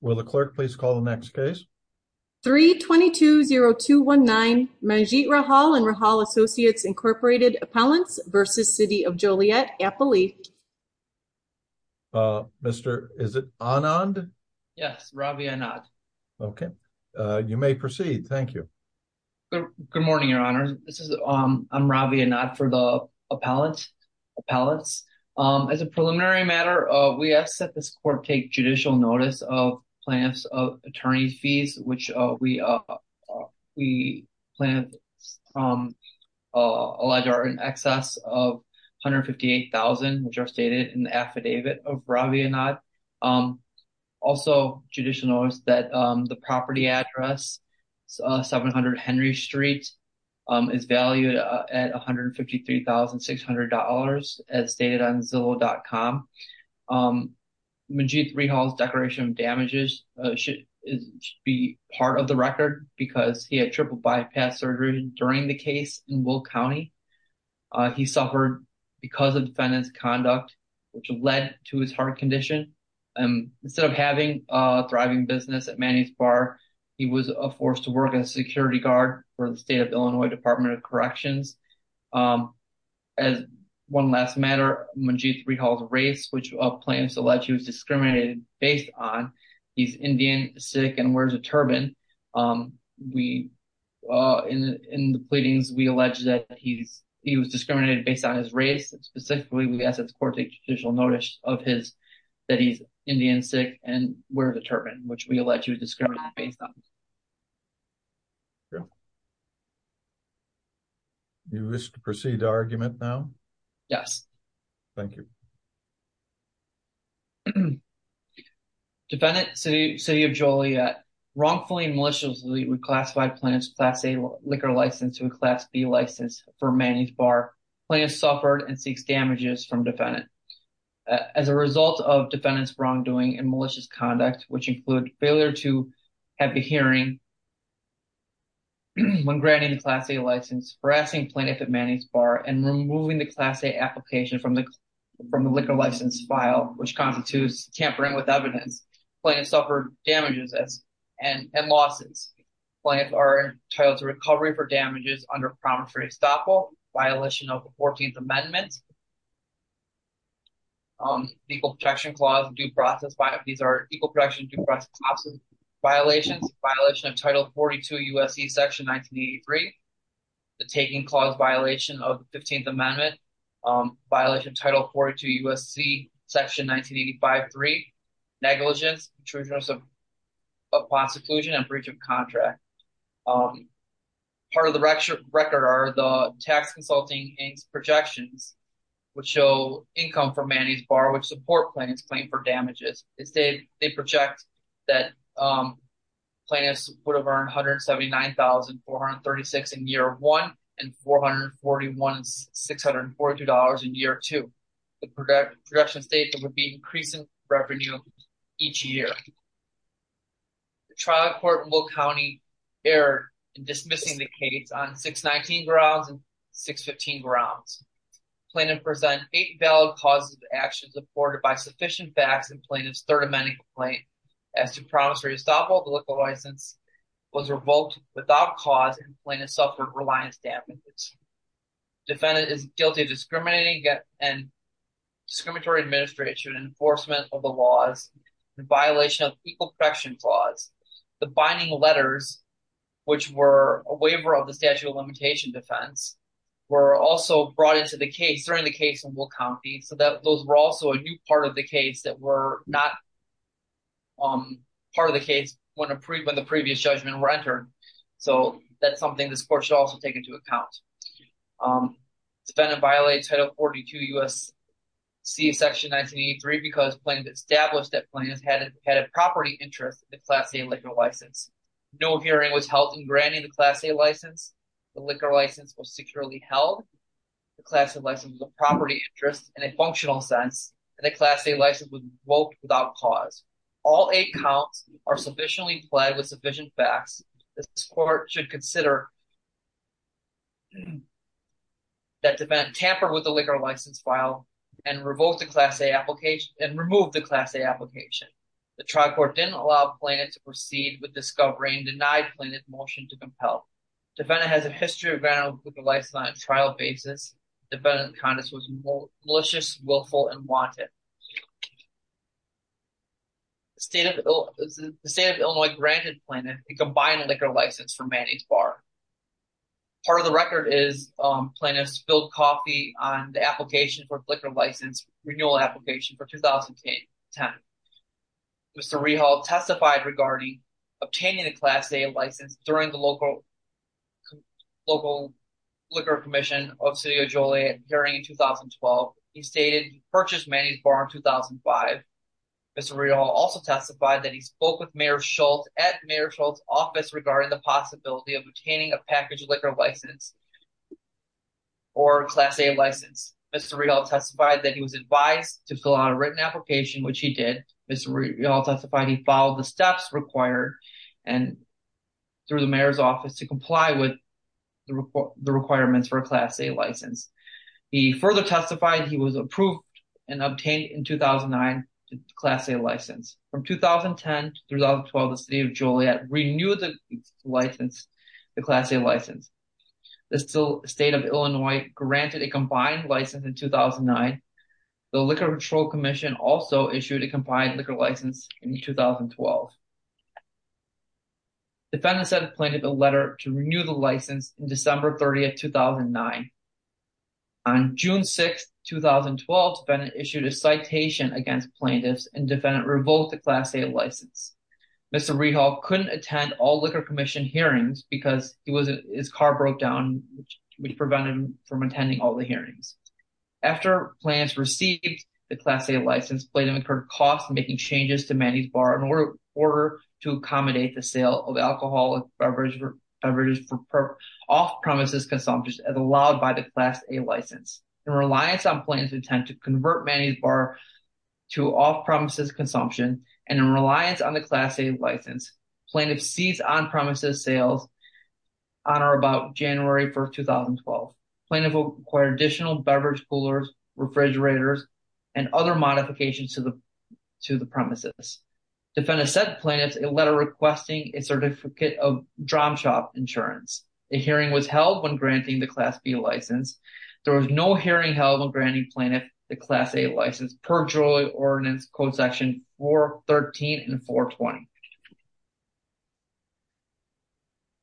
Will the clerk please call the next case? 320219 Manjeet Rahal and Rahal Associates Incorporated Appellants v. City of Joliet Appellee. Mr. Is it Anand? Yes, Ravi Anand. Okay, you may proceed. Thank you. Good morning, your honor. This is Ravi Anand for the appellants. As a preliminary matter, we ask that this court take judicial notice of plans of attorney fees, which we plan from a larger in excess of $158,000, which are stated in the affidavit of Ravi Anand. Also, judicial notice that the property address 700 Henry Street is valued at $153,600 as stated on Zillow.com. Manjeet Rehal's declaration of damages should be part of the record because he had triple bypass surgery during the case in Will County. He suffered because of defendant's conduct, which led to his heart condition. Instead of having a thriving business at Manny's Bar, he was forced to work as a security guard for the state of Illinois Department of Corrections. As one last matter, Manjeet Rehal's race, which plans to let you discriminate based on he's Indian, Sikh, and wears a turban. In the pleadings, we allege that he was discriminated based on his race. Specifically, we ask that the court take judicial notice of his that he's Indian, Sikh, and wears a turban, which we allege he was discriminated based on. You wish to proceed to argument now? Yes. Thank you. Defendant, City of Joliet, wrongfully and maliciously reclassified plans Class A liquor license to a Class B license for Manny's Bar. Plans suffered and seeks damages from defendant. As a result of defendant's wrongdoing and malicious conduct, which include failure to have a hearing when granting the Class A license, harassing plaintiff at Manny's Bar, and removing the Class A application from the liquor license file, which constitutes tampering with evidence, plaintiff suffered damages and losses. Plaintiff are entitled to recovery for damages under promissory estoppel, violation of the 14th Amendment, negligence, negligence, negligence, negligence, negligence, negligence, negligence, negligence, equal protection clause, due process, these are equal protection due process, violations, violation of Title 42 USC Section 1983, the taking clause violation of the 15th Amendment, violation of Title 42 USC Section 1985-3, negligence, intrusion upon seclusion, and breach of contract. Part of the record are the tax consulting aims projections, which show income from Manny's Bar, which support plaintiff's claim for damages. They say they project that plaintiffs would have earned $179,436 in year one and $441,642 in year two. The projections state there would be increasing revenue each year. The trial court in Will County erred in dismissing the case on 619 grounds and 615 grounds. Plaintiff present eight valid causes of action supported by sufficient facts in plaintiff's third amending complaint as to promissory estoppel, the liquor license was revoked without cause and plaintiff suffered reliance damages. Defendant is guilty of discriminating and discriminatory administration enforcement of the laws, the violation of equal protection clause, the binding letters, which were a waiver of the statute of limitation defense, were also brought into the case during the case in Will County, so that those were also a new part of the case that were not part of the case when the previous judgment were entered. So that's something this court should also take into account. Defendant violated title 42 U.S.C. section 1983 because plaintiff established that plaintiff had a property interest in the class A liquor license. No hearing was held in granting the class A license, the liquor license was securely held, the class A license was a property interest in a functional sense, and the class A license was revoked without cause. All eight are sufficiently implied with sufficient facts. This court should consider that defendant tampered with the liquor license file and removed the class A application. The trial court didn't allow plaintiff to proceed with discovery and denied plaintiff's motion to compel. Defendant has a history of vandalism on a trial basis. Defendant's conduct was malicious, willful, and wanted. The state of Illinois granted plaintiff a combined liquor license for Manny's Bar. Part of the record is plaintiff spilled coffee on the application for liquor license renewal application for 2010. Mr. Rehal testified regarding obtaining the class A license during the local liquor commission of City of Joliet during 2012. He stated he purchased Manny's Bar in 2005. Mr. Rehal also testified that he spoke with Mayor Schultz at Mayor Schultz's office regarding the possibility of obtaining a package liquor license or class A license. Mr. Rehal testified that he was advised to fill out a written application, which he did. Mr. Rehal he followed the steps required and through the mayor's office to comply with the requirements for a class A license. He further testified he was approved and obtained in 2009 class A license. From 2010 to 2012, the City of Joliet renewed the license, the class A license. The state of Illinois granted a combined license in 2009. The liquor control commission also issued a combined liquor license in 2012. Defendants had a plaintiff a letter to renew the license in December 30, 2009. On June 6, 2012, defendant issued a citation against plaintiffs and defendant revoked the class A license. Mr. Rehal couldn't attend all liquor commission hearings because his car broke down, which prevented him from attending all the hearings. After plaintiffs received the class A license, plaintiff incurred costs making changes to Manny's Bar in order to accommodate the sale of alcoholic beverages for off-premises consumption as allowed by the class A license. In reliance on plaintiff's intent to convert Manny's Bar to off-premises consumption and in reliance on the class A license, plaintiff ceased on-premises sales on or about January 1, 2012. Plaintiff acquired additional beverage coolers, refrigerators, and other modifications to the to the premises. Defendants sent plaintiffs a letter requesting a certificate of drum shop insurance. A hearing was held when granting the class B license. There was no hearing held on granting plaintiff the class A license per Joliet ordinance code section 413 and 420.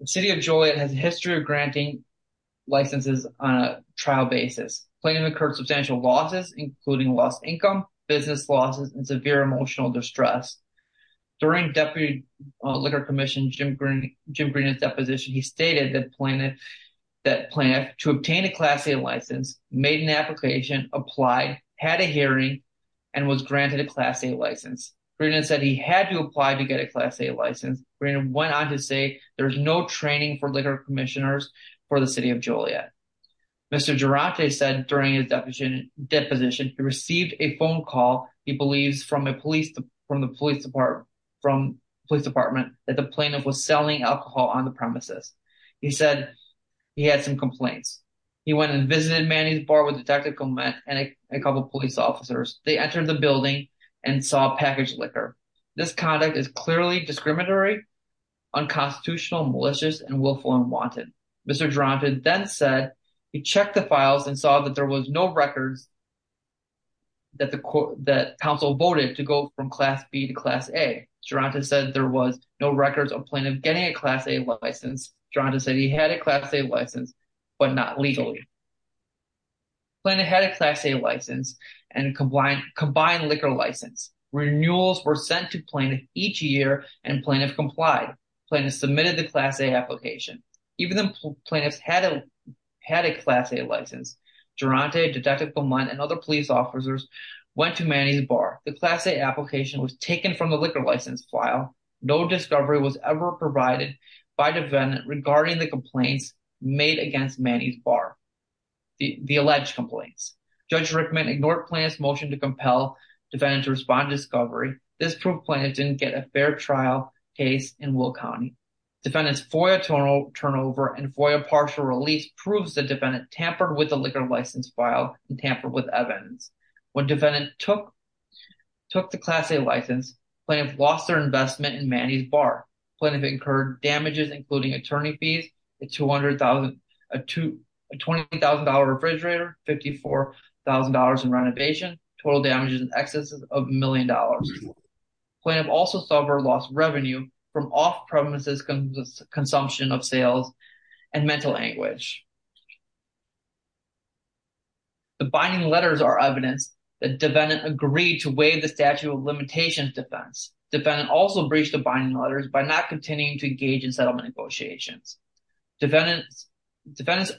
The city of Joliet has a history of granting licenses on a trial basis. Plaintiff incurred substantial losses including lost income, business losses, and severe emotional distress. During deputy liquor commission Jim Green's deposition, he stated that plaintiff that plaintiff to obtain a class A license made an application, applied, had a hearing, and was to apply to get a class A license. Green went on to say there's no training for liquor commissioners for the city of Joliet. Mr. Jurate said during his deposition he received a phone call he believes from the police department that the plaintiff was selling alcohol on the premises. He said he had some complaints. He went and visited Manny's Bar with the technical men and a couple police officers. They entered the building and saw packaged liquor. This conduct is clearly discriminatory, unconstitutional, malicious, and willful unwanted. Mr. Jurate then said he checked the files and saw that there was no records that the council voted to go from class B to class A. Jurate said there was no records of plaintiff getting a class A license. Jurate said he had a class A license but not legally. Plaintiff had a class A license and combined liquor license. Renewals were sent to plaintiff each year and plaintiff complied. Plaintiff submitted the class A application. Even though plaintiffs had a class A license, Jurate, Detective Beaumont, and other police officers went to Manny's Bar. The class A application was taken from the liquor license file. No discovery was ever provided by the defendant regarding the complaints made against Manny's Bar. The alleged complaints. Judge Rickman ignored plaintiff's motion to compel defendant to respond to discovery. This proved plaintiff didn't get a fair trial case in Will County. Defendant's FOIA turnover and FOIA partial release proves the defendant tampered with the liquor license file and tampered with evidence. When defendant took the class A license, plaintiff lost their investment in Manny's Bar. Plaintiff incurred attorney fees, a $20,000 refrigerator, $54,000 in renovation, total damages in excess of $1,000,000. Plaintiff also suffered lost revenue from off-premises consumption of sales and mental anguish. The binding letters are evidence that defendant agreed to waive the statute of limitations defense. Defendant also breached the binding letters by not continuing to engage in settlement negotiations. Defendant's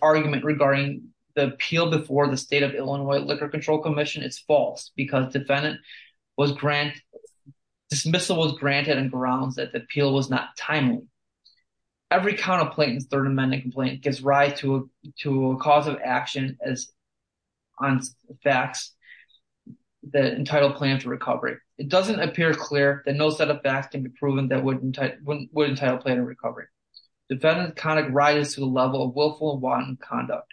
argument regarding the appeal before the state of Illinois Liquor Control Commission is false because dismissal was granted on grounds that the appeal was not timely. Every count of plaintiff's third amendment complaint gives rise to a cause of action on facts that entitle plaintiff to recovery. It doesn't appear clear that no set of facts can be proven that would entitle plaintiff to recovery. Defendant's conduct rises to the level of willful and wanton conduct.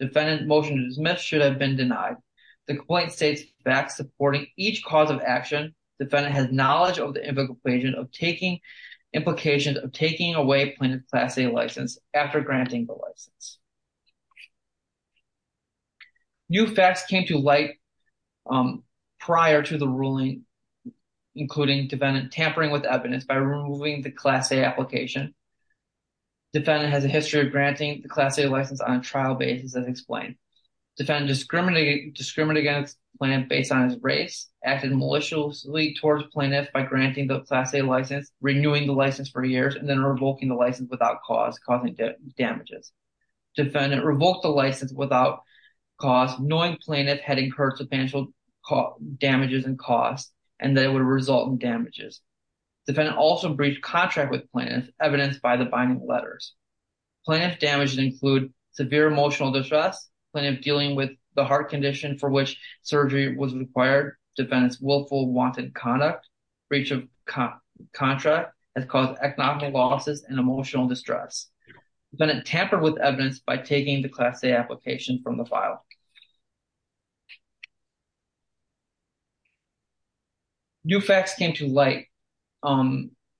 Defendant's motion to dismiss should have been denied. The complaint states facts supporting each cause of action. Defendant has knowledge of the implications of taking away plaintiff's class A license after granting the license. New facts came to light prior to the ruling including defendant tampering with evidence by removing the class A application. Defendant has a history of granting the class A license on trial basis as explained. Defendant discriminated against plaintiff based on his race, acted maliciously towards plaintiff by granting the class A license, renewing the license for years, and then revoking the license without cause causing damages. Defendant revoked the license without cause knowing plaintiff had incurred substantial damages and costs and that it would result in damages. Defendant also breached contract with plaintiff evidenced by the binding letters. Plaintiff's damages include severe emotional distress, plaintiff dealing with the heart condition for which surgery was required, defendant's willful wanton conduct, breach of contract that caused economic losses and emotional distress. Defendant tampered with evidence by taking the class A application from the file. New facts came to light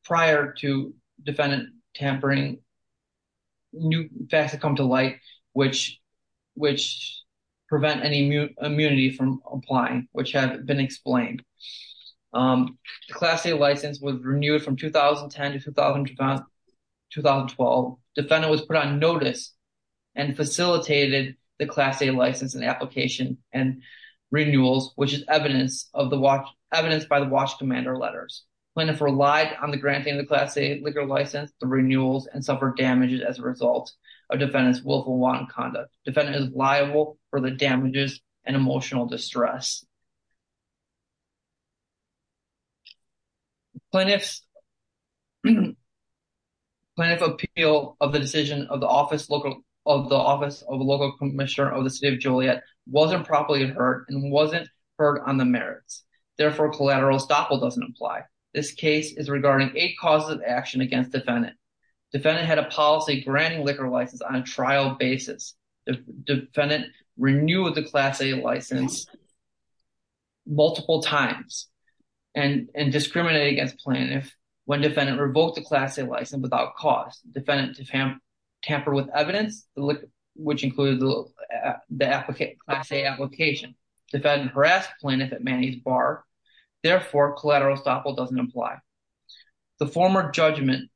prior to defendant tampering. New facts that come to light which prevent any immunity from applying which have been explained. The class A license was facilitated the class A license and application and renewals which is evidence of the watch evidence by the watch commander letters. Plaintiff relied on the granting of the class A legal license, the renewals, and suffered damages as a result of defendant's willful wanton conduct. Defendant is liable for the damages and emotional distress. Plaintiff's appeal of the decision of the office of the local commissioner of the city of Juliet wasn't properly heard and wasn't heard on the merits. Therefore collateral estoppel doesn't apply. This case is regarding eight causes of action against defendant. Defendant had a policy on trial basis. Defendant renewed the class A license multiple times and discriminated against plaintiff when defendant revoked the class A license without cause. Defendant tampered with evidence which included the class A application. Defendant harassed plaintiff at Manny's Bar. Therefore collateral estoppel doesn't apply. The former judgment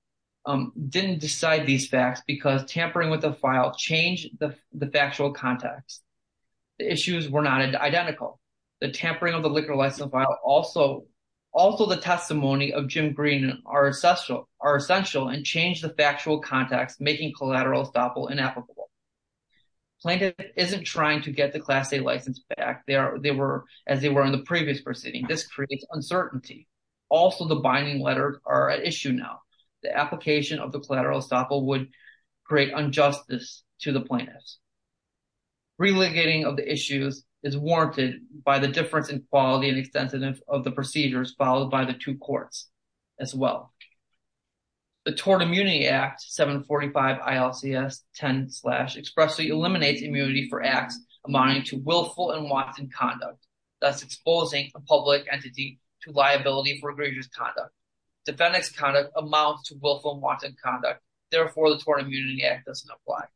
didn't decide these facts because tampering with the file changed the factual context. The issues were not identical. The tampering of the liquor license file also the testimony of Jim Green are essential and changed the factual context making collateral estoppel inapplicable. Plaintiff isn't trying to get the class A license back as they were in the previous proceeding. This creates uncertainty. Also the binding letters are an issue now. The application of the collateral estoppel would create injustice to the plaintiffs. Relitigating of the issues is warranted by the difference in quality and extensiveness of the procedures followed by the two courts as well. The Tort immunity for acts amounting to willful and wanton conduct thus exposing a public entity to liability for egregious conduct. Defendant's conduct amounts to willful and wanton conduct therefore the Tort Immunity Act doesn't apply.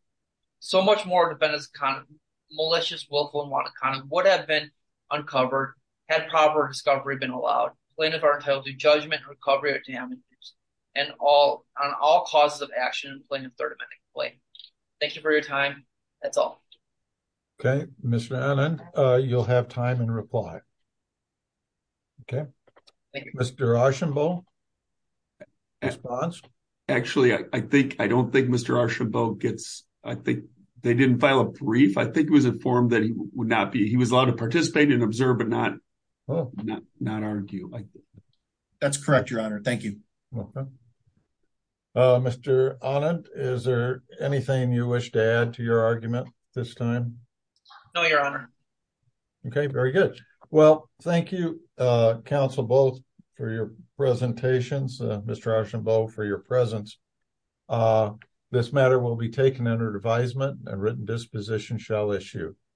So much more defendant's malicious willful and wanton conduct would have been uncovered had proper discovery been allowed. Plaintiff are entitled to judgment, recovery, or damages on all causes of action in plaintiff's third amending claim. Thank you for your time. That's all. Okay Mr. Anand, you'll have time and reply. Okay. Thank you. Mr. Archambault? Actually I think, I don't think Mr. Archambault gets, I think they didn't file a brief. I think it was informed that he would not be, he was allowed to participate and observe but not not argue. That's correct, your honor. Thank you. Okay. Mr. Anand, is there anything you wish to add to your argument this time? No, your honor. Okay, very good. Well, thank you, Council both for your presentations, Mr. Archambault for your presence. This matter will be taken under advisement and written disposition shall issue.